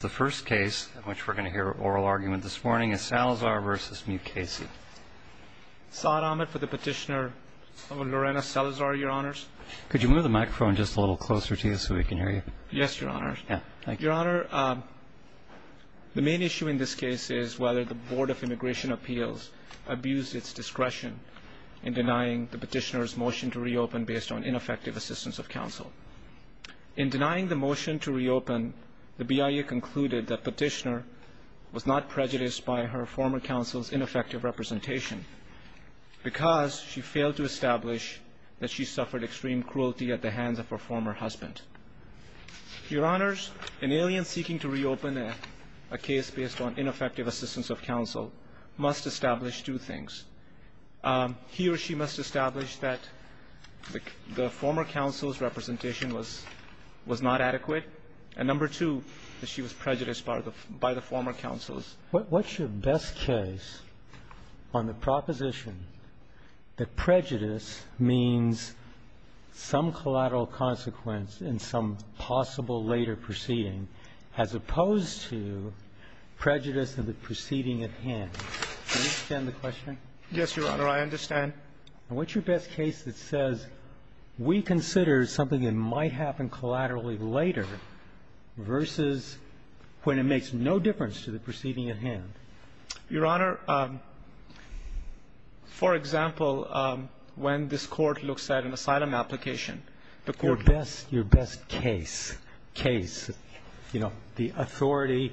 The first case in which we're going to hear oral argument this morning is Salazar v. Mukasey. Saad Ahmed for the petitioner, Lorena Salazar, Your Honors. Could you move the microphone just a little closer to you so we can hear you? Yes, Your Honors. Thank you. Your Honor, the main issue in this case is whether the Board of Immigration Appeals abused its discretion in denying the petitioner's motion to reopen based on ineffective assistance of counsel. In denying the motion to reopen, the BIA concluded that petitioner was not prejudiced by her former counsel's ineffective representation because she failed to establish that she suffered extreme cruelty at the hands of her former husband. Your Honors, an alien seeking to reopen a case based on ineffective assistance of counsel must establish two things. First, he or she must establish that the former counsel's representation was not adequate. And number two, that she was prejudiced by the former counsel's. What's your best case on the proposition that prejudice means some collateral consequence in some possible later proceeding as opposed to prejudice in the proceeding at hand? Do you understand the question? Yes, Your Honor. I understand. And what's your best case that says we consider something that might happen collaterally later versus when it makes no difference to the proceeding at hand? Your Honor, for example, when this Court looks at an asylum application, the Court Your best case, case, you know, the authority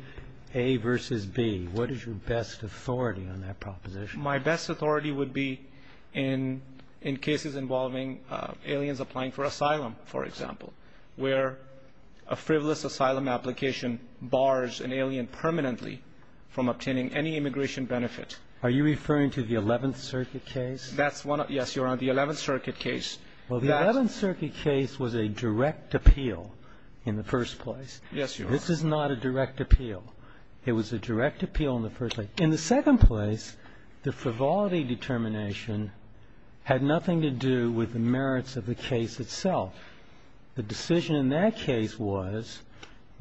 A versus B. What is your best authority on that proposition? My best authority would be in cases involving aliens applying for asylum, for example, where a frivolous asylum application bars an alien permanently from obtaining any immigration benefit. Are you referring to the Eleventh Circuit case? That's one. Yes, Your Honor, the Eleventh Circuit case. Well, the Eleventh Circuit case was a direct appeal in the first place. Yes, Your Honor. This is not a direct appeal. It was a direct appeal in the first place. In the second place, the frivolity determination had nothing to do with the merits of the case itself. The decision in that case was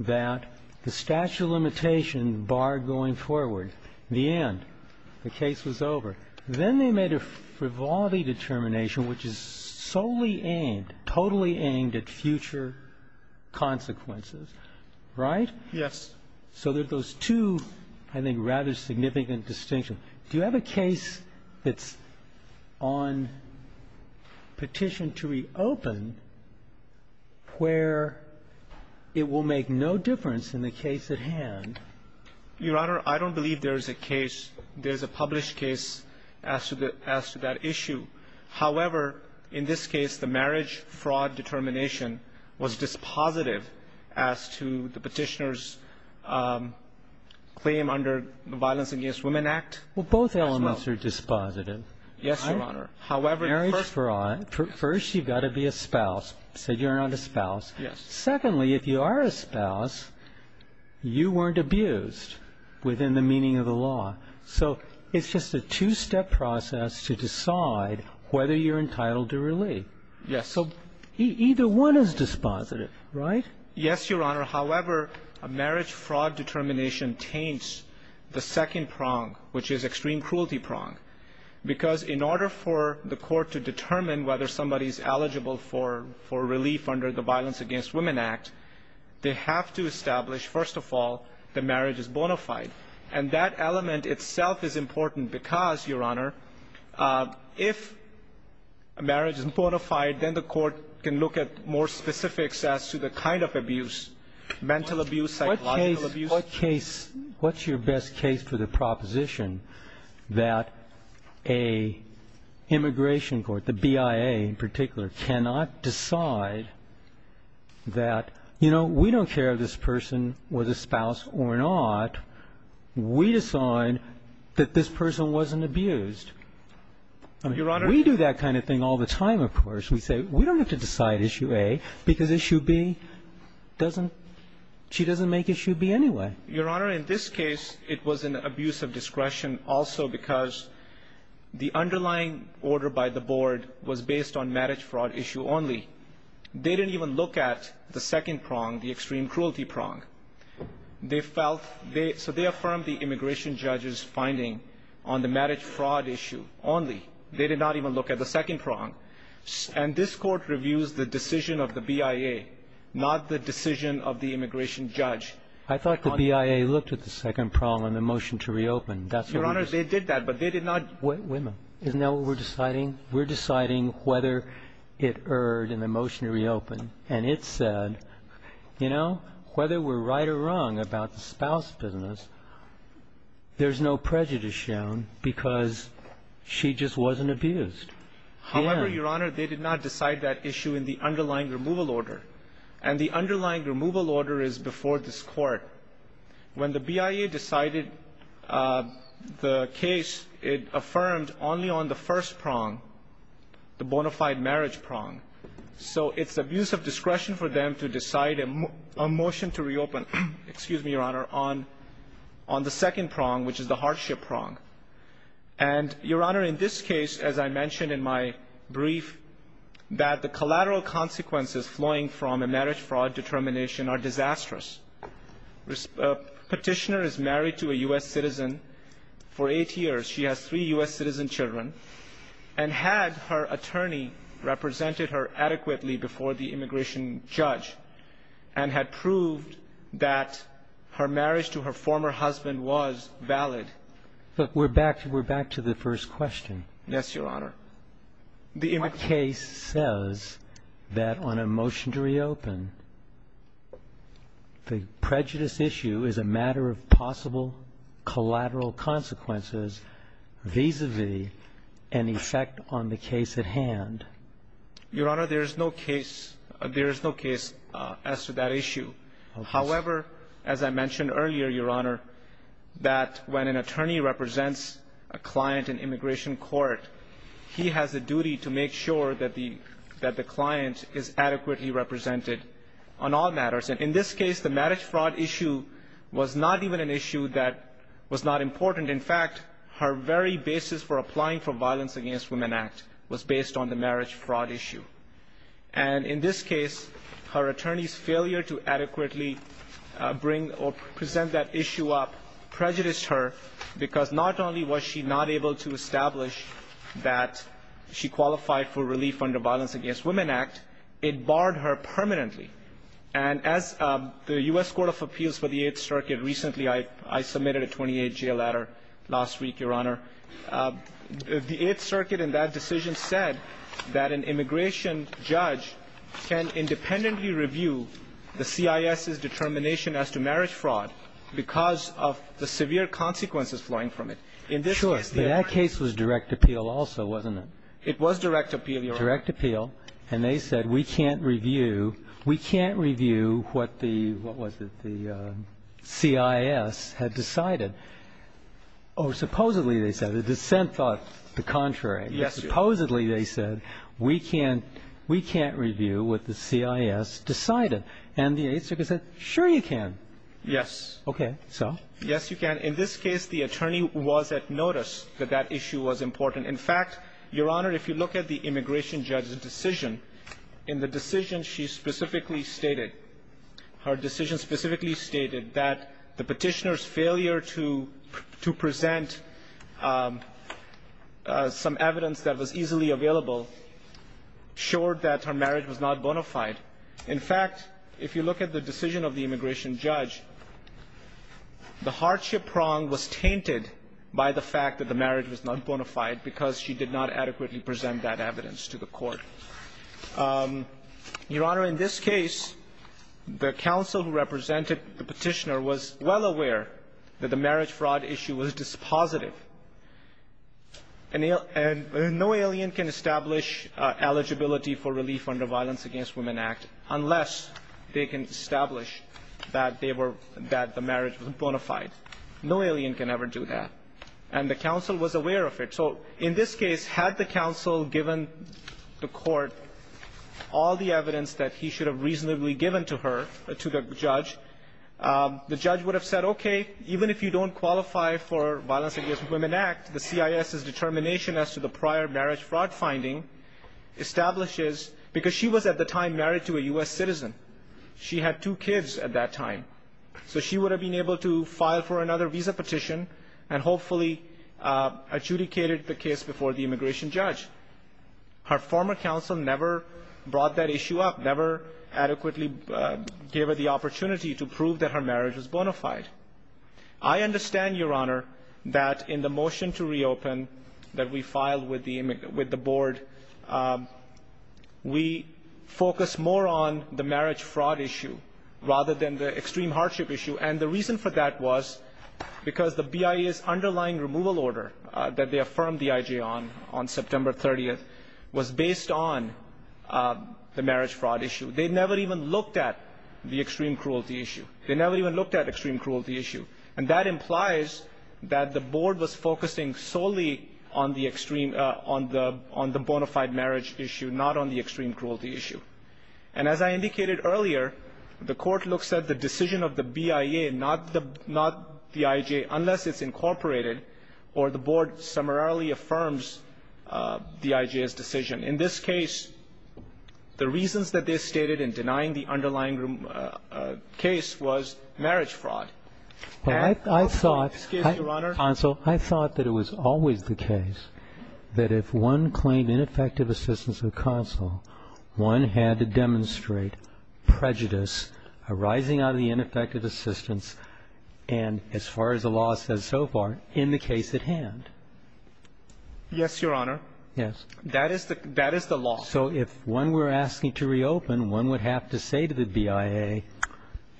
that the statute of limitations barred going forward. The end. The case was over. Then they made a frivolity determination which is solely aimed, totally aimed at future consequences, right? Yes. So there's those two, I think, rather significant distinctions. Do you have a case that's on petition to reopen where it will make no difference in the case at hand? Your Honor, I don't believe there's a case, there's a published case as to that issue. However, in this case, the marriage fraud determination was dispositive as to the Petitioner's claim under the Violence Against Women Act as well. Well, both elements are dispositive. Yes, Your Honor. However, first you've got to be a spouse. So you're not a spouse. Yes. Secondly, if you are a spouse, you weren't abused within the meaning of the law. So it's just a two-step process to decide whether you're entitled to relief. Yes. So either one is dispositive, right? Yes, Your Honor. However, a marriage fraud determination taints the second prong, which is extreme cruelty prong. Because in order for the Court to determine whether somebody is eligible for relief under the Violence Against Women Act, they have to establish, first of all, the marriage is bona fide. And that element itself is important because, Your Honor, if a marriage is bona fide, then the Court can look at more specifics as to the kind of abuse, mental abuse, psychological abuse. What's your best case for the proposition that an immigration court, the BIA in particular, cannot decide that, you know, we don't care if this person was a spouse or not. We decide that this person wasn't abused. Your Honor. We do that kind of thing all the time, of course. We say we don't have to decide issue A because issue B doesn't – she doesn't make issue B anyway. Your Honor, in this case, it was an abuse of discretion also because the underlying order by the Board was based on marriage fraud issue only. They didn't even look at the second prong, the extreme cruelty prong. They felt they – so they affirmed the immigration judge's finding on the marriage fraud issue only. They did not even look at the second prong. And this Court reviews the decision of the BIA, not the decision of the immigration judge. I thought the BIA looked at the second prong in the motion to reopen. Your Honor, they did that, but they did not – Wait a minute. Isn't that what we're deciding? We're deciding whether it erred in the motion to reopen, and it said, you know, whether we're right or wrong about the spouse business, there's no prejudice shown because she just wasn't abused. However, Your Honor, they did not decide that issue in the underlying removal order. And the underlying removal order is before this Court. When the BIA decided the case, it affirmed only on the first prong, the bona fide marriage prong. So it's abuse of discretion for them to decide a motion to reopen, excuse me, Your Honor, on the second prong, which is the hardship prong. And, Your Honor, in this case, as I mentioned in my brief, that the collateral consequences flowing from a marriage fraud determination are disastrous. A petitioner is married to a U.S. citizen for eight years. She has three U.S. citizen children. And had her attorney represented her adequately before the immigration judge and had proved that her marriage to her former husband was valid. But we're back to the first question. Yes, Your Honor. The case says that on a motion to reopen, the prejudice issue is a matter of possible collateral consequences vis-a-vis an effect on the case at hand. Your Honor, there is no case as to that issue. However, as I mentioned earlier, Your Honor, that when an attorney represents a client in immigration court, he has a duty to make sure that the client is adequately represented on all matters. And in this case, the marriage fraud issue was not even an issue that was not important. And in fact, her very basis for applying for Violence Against Women Act was based on the marriage fraud issue. And in this case, her attorney's failure to adequately bring or present that issue up prejudiced her because not only was she not able to establish that she qualified for relief under Violence Against Women Act, it barred her permanently. And as the U.S. Court of Appeals for the Eighth Circuit recently, I submitted a 28-year letter last week, Your Honor. The Eighth Circuit in that decision said that an immigration judge can independently review the CIS's determination as to marriage fraud because of the severe consequences flowing from it. In this case, the attorney ---- Sure. But that case was direct appeal also, wasn't it? It was direct appeal, Your Honor. It was direct appeal. And they said, we can't review. We can't review what the ---- what was it? The CIS had decided. Or supposedly, they said. The dissent thought the contrary. Yes. Supposedly, they said, we can't review what the CIS decided. And the Eighth Circuit said, sure you can. Yes. Okay. So? Yes, you can. In this case, the attorney was at notice that that issue was important. In fact, Your Honor, if you look at the immigration judge's decision, in the decision she specifically stated, her decision specifically stated that the petitioner's failure to present some evidence that was easily available showed that her marriage was not bona fide. In fact, if you look at the decision of the immigration judge, the hardship prong was tainted by the fact that the marriage was not bona fide because she did not adequately present that evidence to the court. Your Honor, in this case, the counsel who represented the petitioner was well aware that the marriage fraud issue was dispositive. And no alien can establish eligibility for relief under the Violence Against Women Act unless they can establish that they were ---- that the marriage was bona fide. No alien can ever do that. And the counsel was aware of it. So in this case, had the counsel given the court all the evidence that he should have reasonably given to her, to the judge, the judge would have said, okay, even if you don't qualify for Violence Against Women Act, the CIS's determination as to the prior marriage fraud finding establishes, because she was at the time married to a U.S. citizen. She had two kids at that time. So she would have been able to file for another visa petition and hopefully adjudicated the case before the immigration judge. Her former counsel never brought that issue up, never adequately gave her the opportunity to prove that her marriage was bona fide. I understand, Your Honor, that in the motion to reopen that we filed with the board, we focused more on the marriage fraud issue rather than the extreme hardship issue. And the reason for that was because the BIA's underlying removal order that they affirmed the IJ on, on September 30th, was based on the marriage fraud issue. They never even looked at the extreme cruelty issue. They never even looked at extreme cruelty issue. And that implies that the board was focusing solely on the extreme, on the, on the bona fide marriage issue, not on the extreme cruelty issue. And as I indicated earlier, the court looks at the decision of the BIA, not the, not the IJ, unless it's incorporated or the board summarily affirms the IJ's decision. In this case, the reasons that they stated in denying the underlying case was marriage fraud. And also, excuse me, Your Honor. Counsel, I thought that it was always the case that if one claimed ineffective assistance of counsel, one had to demonstrate prejudice arising out of the ineffective assistance and, as far as the law says so far, in the case at hand. Yes, Your Honor. Yes. That is the, that is the law. So if one were asking to reopen, one would have to say to the BIA,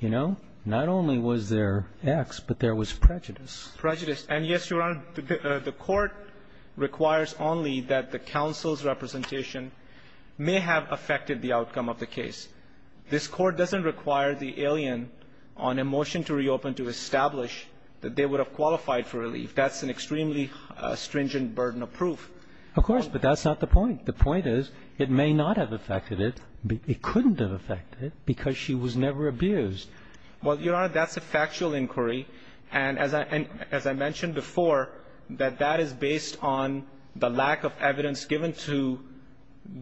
you know, not only was there X, but there was prejudice. Prejudice. And yes, Your Honor, the court requires only that the counsel's representation may have affected the outcome of the case. This Court doesn't require the alien on a motion to reopen to establish that they would have qualified for relief. That's an extremely stringent burden of proof. Of course. But that's not the point. The point is it may not have affected it. It couldn't have affected it because she was never abused. Well, Your Honor, that's a factual inquiry, and as I mentioned before, that that is based on the lack of evidence given to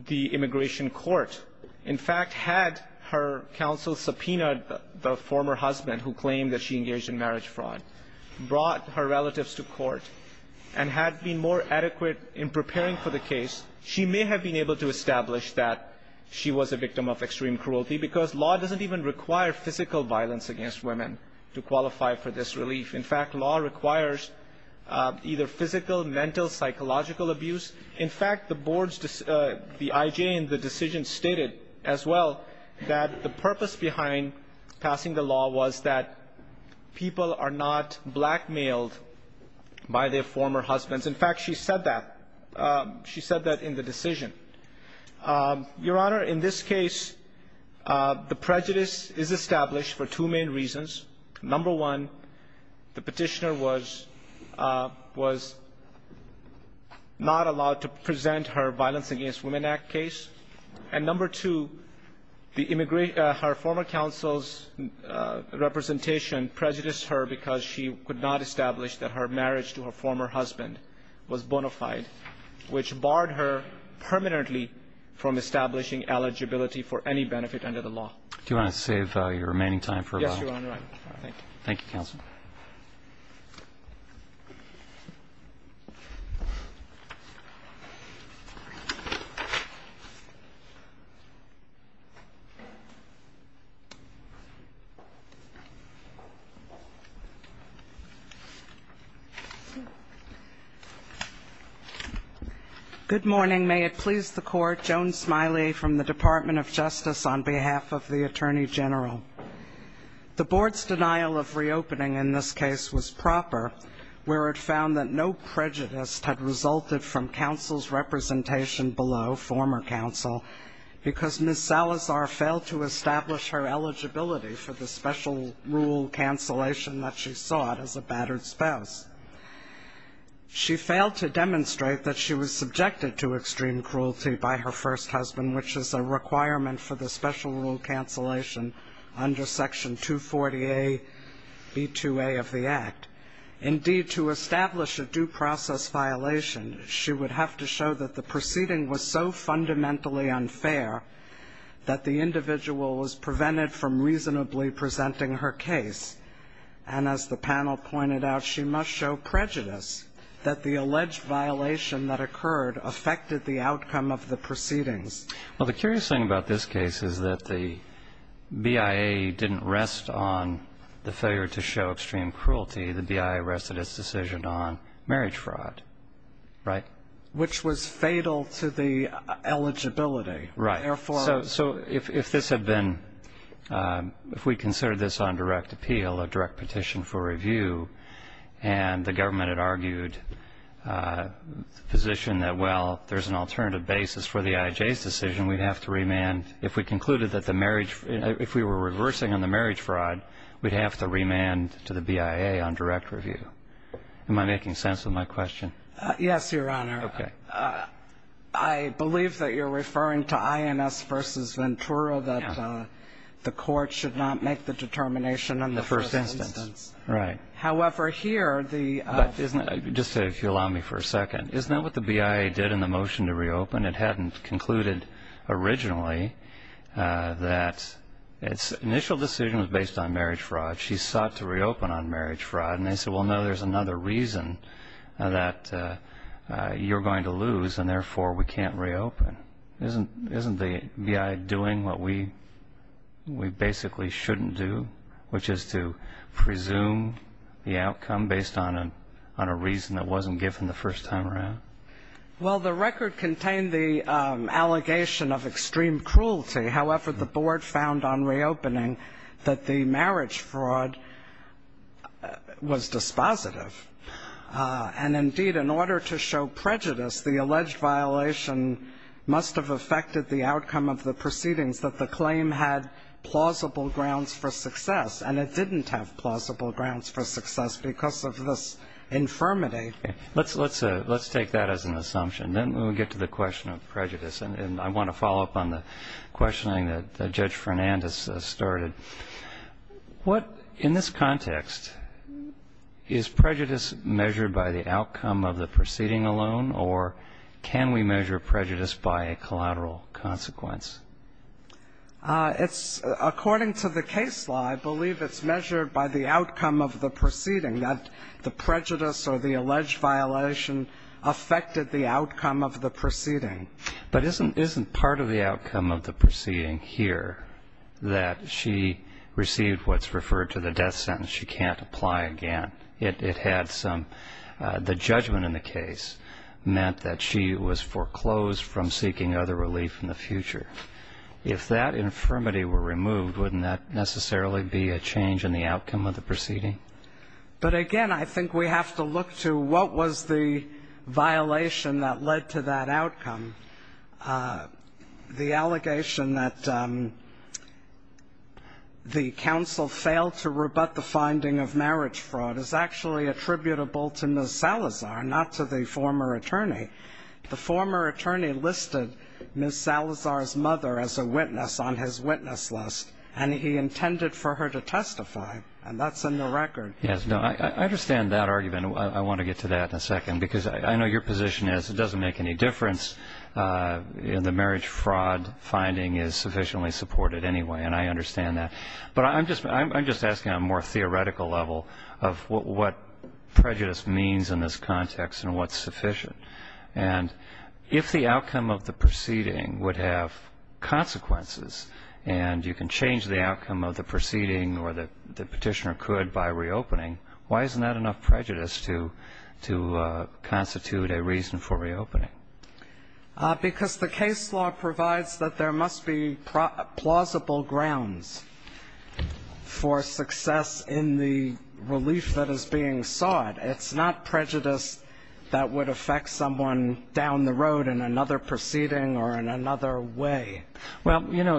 the immigration court. In fact, had her counsel subpoenaed the former husband who claimed that she engaged in marriage fraud, brought her relatives to court, and had been more adequate in preparing for the case, she may have been able to establish that she was a victim of extreme cruelty because law doesn't even require physical violence against women to qualify for this relief. In fact, law requires either physical, mental, psychological abuse. In fact, the boards, the IJ in the decision stated as well that the purpose behind passing the law was that people are not blackmailed by their former husbands. In fact, she said that. She said that in the decision. Your Honor, in this case, the prejudice is established for two main reasons. Number one, the petitioner was not allowed to present her Violence Against Women Act case. And number two, her former counsel's representation prejudiced her because she could not establish that her marriage to her former husband was bona fide, which barred her permanently from establishing eligibility for any benefit under the law. Do you want to save your remaining time for a moment? Yes, Your Honor. Thank you, counsel. Thank you, counsel. Good morning. May it please the Court, Joan Smiley from the Department of Justice on behalf of the Attorney General. The board's denial of reopening in this case was proper, where it found that no prejudice had resulted from counsel's representation below former counsel because Ms. Salazar failed to establish her eligibility for the special rule cancellation that she sought as a battered spouse. She failed to demonstrate that she was subjected to extreme cruelty by her first husband, which is a requirement for the special rule cancellation under Section 240A, B2A of the Act. Indeed, to establish a due process violation, she would have to show that the proceeding was so fundamentally unfair that the individual was prevented from reasonably presenting her case. And as the panel pointed out, she must show prejudice that the alleged violation that Well, the curious thing about this case is that the BIA didn't rest on the failure to show extreme cruelty. The BIA rested its decision on marriage fraud, right? Which was fatal to the eligibility. Right. Therefore... So if this had been, if we considered this on direct appeal, a direct petition for review, and the government had argued the position that, well, there's an alternative basis for the IJ's decision, we'd have to remand, if we concluded that the marriage, if we were reversing on the marriage fraud, we'd have to remand to the BIA on direct review. Am I making sense of my question? Yes, Your Honor. Okay. I believe that you're referring to INS versus Ventura, that the court should not make the determination in the first instance. In the first instance. Right. However, here, the... But isn't it, just if you'll allow me for a second, isn't that what the BIA did in the motion to reopen, it hadn't concluded originally that its initial decision was based on marriage fraud. She sought to reopen on marriage fraud. And they said, well, no, there's another reason that you're going to lose, and therefore we can't reopen. Isn't the BIA doing what we basically shouldn't do, which is to presume the outcome based on a reason that wasn't given the first time around? Well, the record contained the allegation of extreme cruelty. However, the board found on reopening that the marriage fraud was dispositive. And, indeed, in order to show prejudice, the alleged violation must have affected the outcome of the proceedings, that the claim had plausible grounds for success. And it didn't have plausible grounds for success because of this infirmity. Okay. Let's take that as an assumption. Then we'll get to the question of prejudice. And I want to follow up on the questioning that Judge Fernandez started. In this context, is prejudice measured by the outcome of the proceeding alone, or can we measure prejudice by a collateral consequence? According to the case law, I believe it's measured by the outcome of the proceeding, that the prejudice or the alleged violation affected the outcome of the proceeding. But isn't part of the outcome of the proceeding here that she received what's referred to the death sentence, she can't apply again? It had some of the judgment in the case meant that she was foreclosed from seeking other relief in the future. If that infirmity were removed, wouldn't that necessarily be a change in the outcome of the proceeding? But, again, I think we have to look to what was the violation that led to that outcome. The allegation that the counsel failed to rebut the finding of marriage fraud is actually attributable to Ms. Salazar, not to the former attorney. The former attorney listed Ms. Salazar's mother as a witness on his witness list, and he intended for her to testify, and that's in the record. Yes, I understand that argument. I want to get to that in a second because I know your position is it doesn't make any difference. The marriage fraud finding is sufficiently supported anyway, and I understand that. But I'm just asking on a more theoretical level of what prejudice means in this context and what's sufficient. And if the outcome of the proceeding would have consequences and you can change the outcome of the proceeding or the petitioner could by reopening, why isn't that enough prejudice to constitute a reason for reopening? Because the case law provides that there must be plausible grounds for success in the relief that is being sought. It's not prejudice that would affect someone down the road in another proceeding or in another way. Well, you know,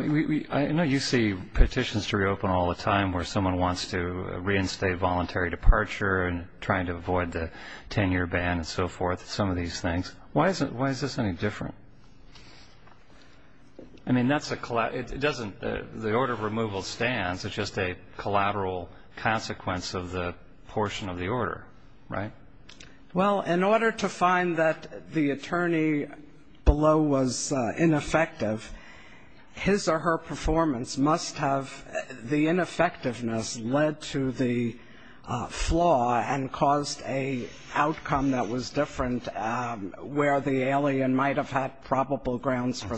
I know you see petitions to reopen all the time where someone wants to reinstate voluntary departure and trying to avoid the 10-year ban and so forth, some of these things. Why is this any different? I mean, the order of removal stands. It's just a collateral consequence of the portion of the order, right? Well, in order to find that the attorney below was ineffective, his or her performance must have the ineffectiveness led to the flaw and caused a outcome that was different where the alien might have had plausible grounds for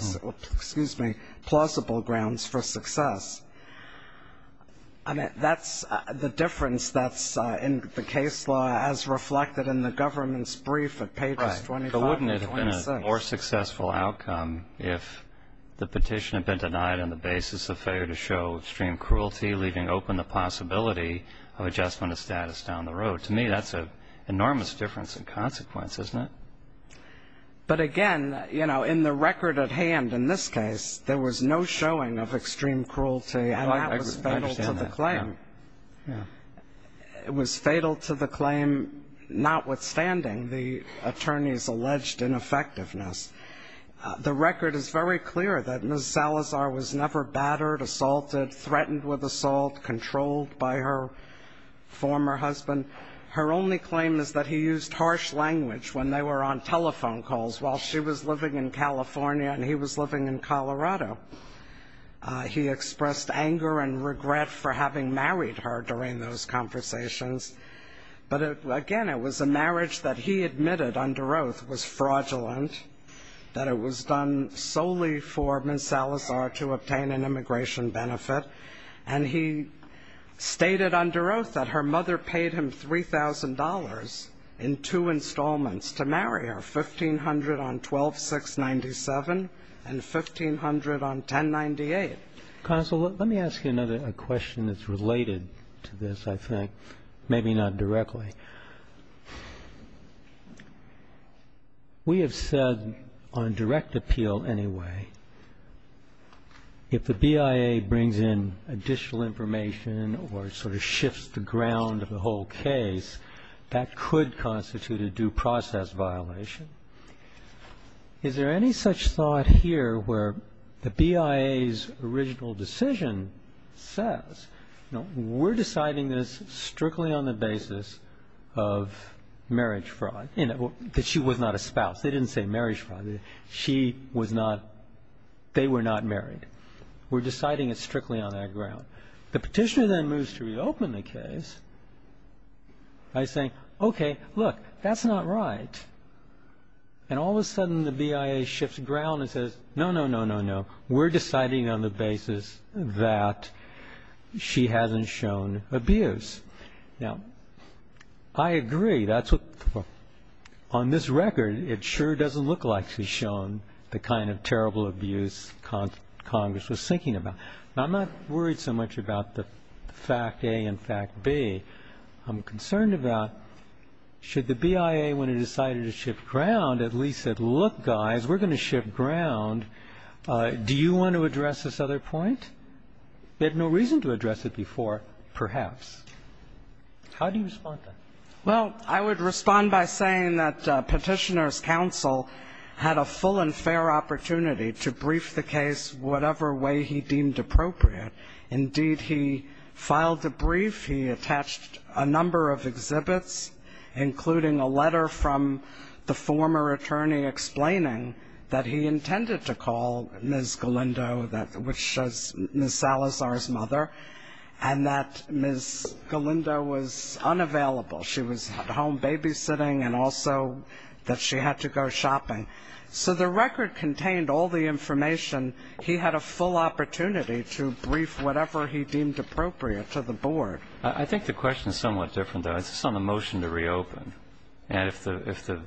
success. That's the difference that's in the case law as reflected in the government's brief at pages 25 and 26. But wouldn't it have been a more successful outcome if the petition had been denied on the basis of failure to show extreme cruelty, leaving open the possibility of adjustment of status down the road? To me, that's an enormous difference in consequence, isn't it? But again, you know, in the record at hand in this case, there was no showing of extreme cruelty. And that was fatal to the claim. It was fatal to the claim notwithstanding the attorney's alleged ineffectiveness. The record is very clear that Ms. Salazar was never battered, assaulted, threatened with assault, controlled by her former husband. Her only claim is that he used harsh language when they were on telephone calls while she was living in California and he was living in Colorado. He expressed anger and regret for having married her during those conversations. But again, it was a marriage that he admitted under oath was fraudulent, that it was done solely for Ms. Salazar to obtain an immigration benefit. And he stated under oath that her mother paid him $3,000 in two installments to marry her, $1,500 on 12-6-97 and $1,500 on 10-98. Counsel, let me ask you another question that's related to this, I think, maybe not directly. We have said on direct appeal anyway, if the BIA brings in additional information or sort of shifts the ground of the whole case, that could constitute a due process violation. Is there any such thought here where the BIA's original decision says, we're deciding this strictly on the basis of marriage fraud, because she was not a spouse. They didn't say marriage fraud. She was not – they were not married. We're deciding it strictly on that ground. The Petitioner then moves to reopen the case by saying, okay, look, that's not right. And all of a sudden, the BIA shifts ground and says, no, no, no, no, no. We're deciding on the basis that she hasn't shown abuse. Now, I agree. That's what – on this record, it sure doesn't look like she's shown the kind of terrible abuse Congress was thinking about. Now, I'm not worried so much about the fact A and fact B. I'm concerned about should the BIA, when it decided to shift ground, at least said, look, guys, we're going to shift ground. Do you want to address this other point? They had no reason to address it before, perhaps. How do you respond to that? Well, I would respond by saying that Petitioner's counsel had a full and fair opportunity to brief the case whatever way he deemed appropriate. Indeed, he filed the brief. He attached a number of exhibits, including a letter from the former attorney explaining that he intended to call Ms. Galindo, which was Ms. Salazar's mother, and that Ms. Galindo was unavailable. She was at home babysitting and also that she had to go shopping. So the record contained all the information. He had a full opportunity to brief whatever he deemed appropriate to the board. I think the question is somewhat different, though. It's on the motion to reopen. And if the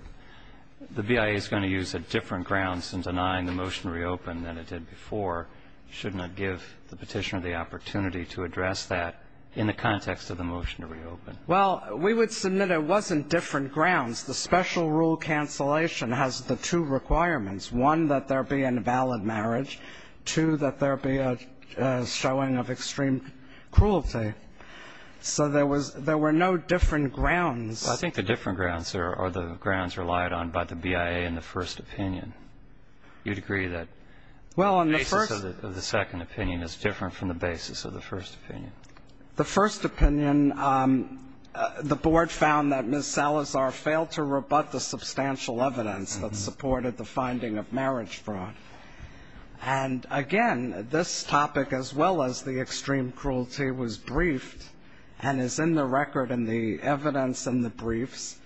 BIA is going to use a different grounds in denying the motion to reopen than it did before, shouldn't it give the Petitioner the opportunity to address that in the context of the motion to reopen? Well, we would submit it wasn't different grounds. The special rule cancellation has the two requirements. One, that there be an invalid marriage. Two, that there be a showing of extreme cruelty. So there was no different grounds. I think the different grounds are the grounds relied on by the BIA in the first opinion. You'd agree that the basis of the second opinion is different from the basis of the first opinion. The first opinion, the board found that Ms. Salazar failed to rebut the substantial evidence that supported the finding of marriage fraud. And, again, this topic as well as the extreme cruelty was briefed and is in the record in the evidence and the briefs.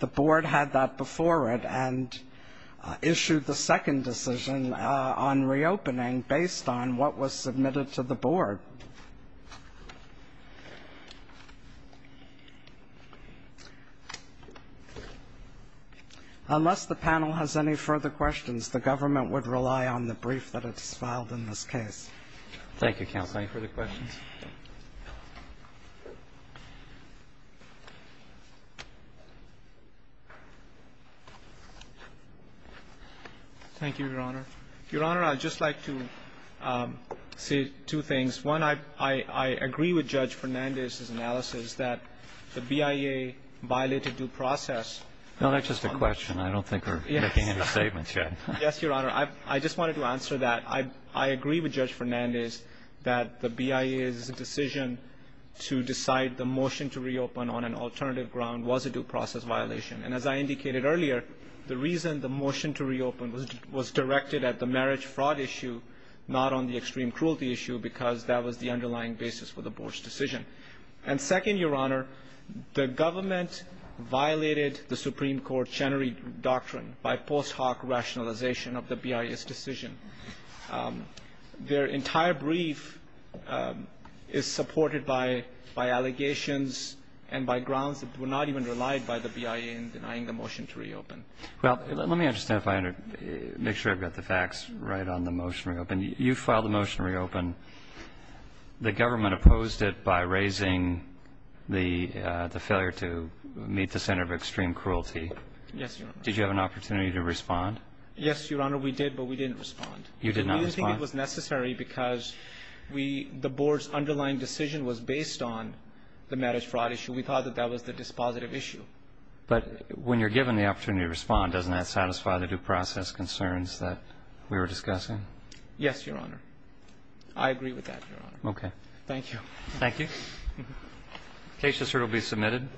The board had that before it and issued the second decision on reopening based on what was submitted to the board. Unless the panel has any further questions, the government would rely on the brief that is filed in this case. Thank you, Counsel. Thank you for the questions. Thank you, Your Honor. Your Honor, I'd just like to say two things. One, I agree with Judge Fernandez's analysis that the BIA violated due process. No, that's just a question. I don't think we're making any statements yet. Yes, Your Honor. I just wanted to answer that. One, I agree with Judge Fernandez that the BIA's decision to decide the motion to reopen on an alternative ground was a due process violation. And as I indicated earlier, the reason the motion to reopen was directed at the marriage fraud issue, not on the extreme cruelty issue, because that was the underlying basis for the board's decision. And second, Your Honor, the government violated the Supreme Court's Chenery Doctrine by post hoc rationalization of the BIA's decision. Their entire brief is supported by allegations and by grounds that were not even relied by the BIA in denying the motion to reopen. Well, let me understand if I under ---- make sure I've got the facts right on the motion to reopen. You filed the motion to reopen. The government opposed it by raising the failure to meet the center of extreme cruelty. Yes, Your Honor. Did you have an opportunity to respond? Yes, Your Honor, we did, but we didn't respond. You did not respond? We didn't think it was necessary because the board's underlying decision was based on the marriage fraud issue. We thought that that was the dispositive issue. But when you're given the opportunity to respond, doesn't that satisfy the due process concerns that we were discussing? Yes, Your Honor. I agree with that, Your Honor. Okay. Thank you. Thank you. The case has certainly been submitted.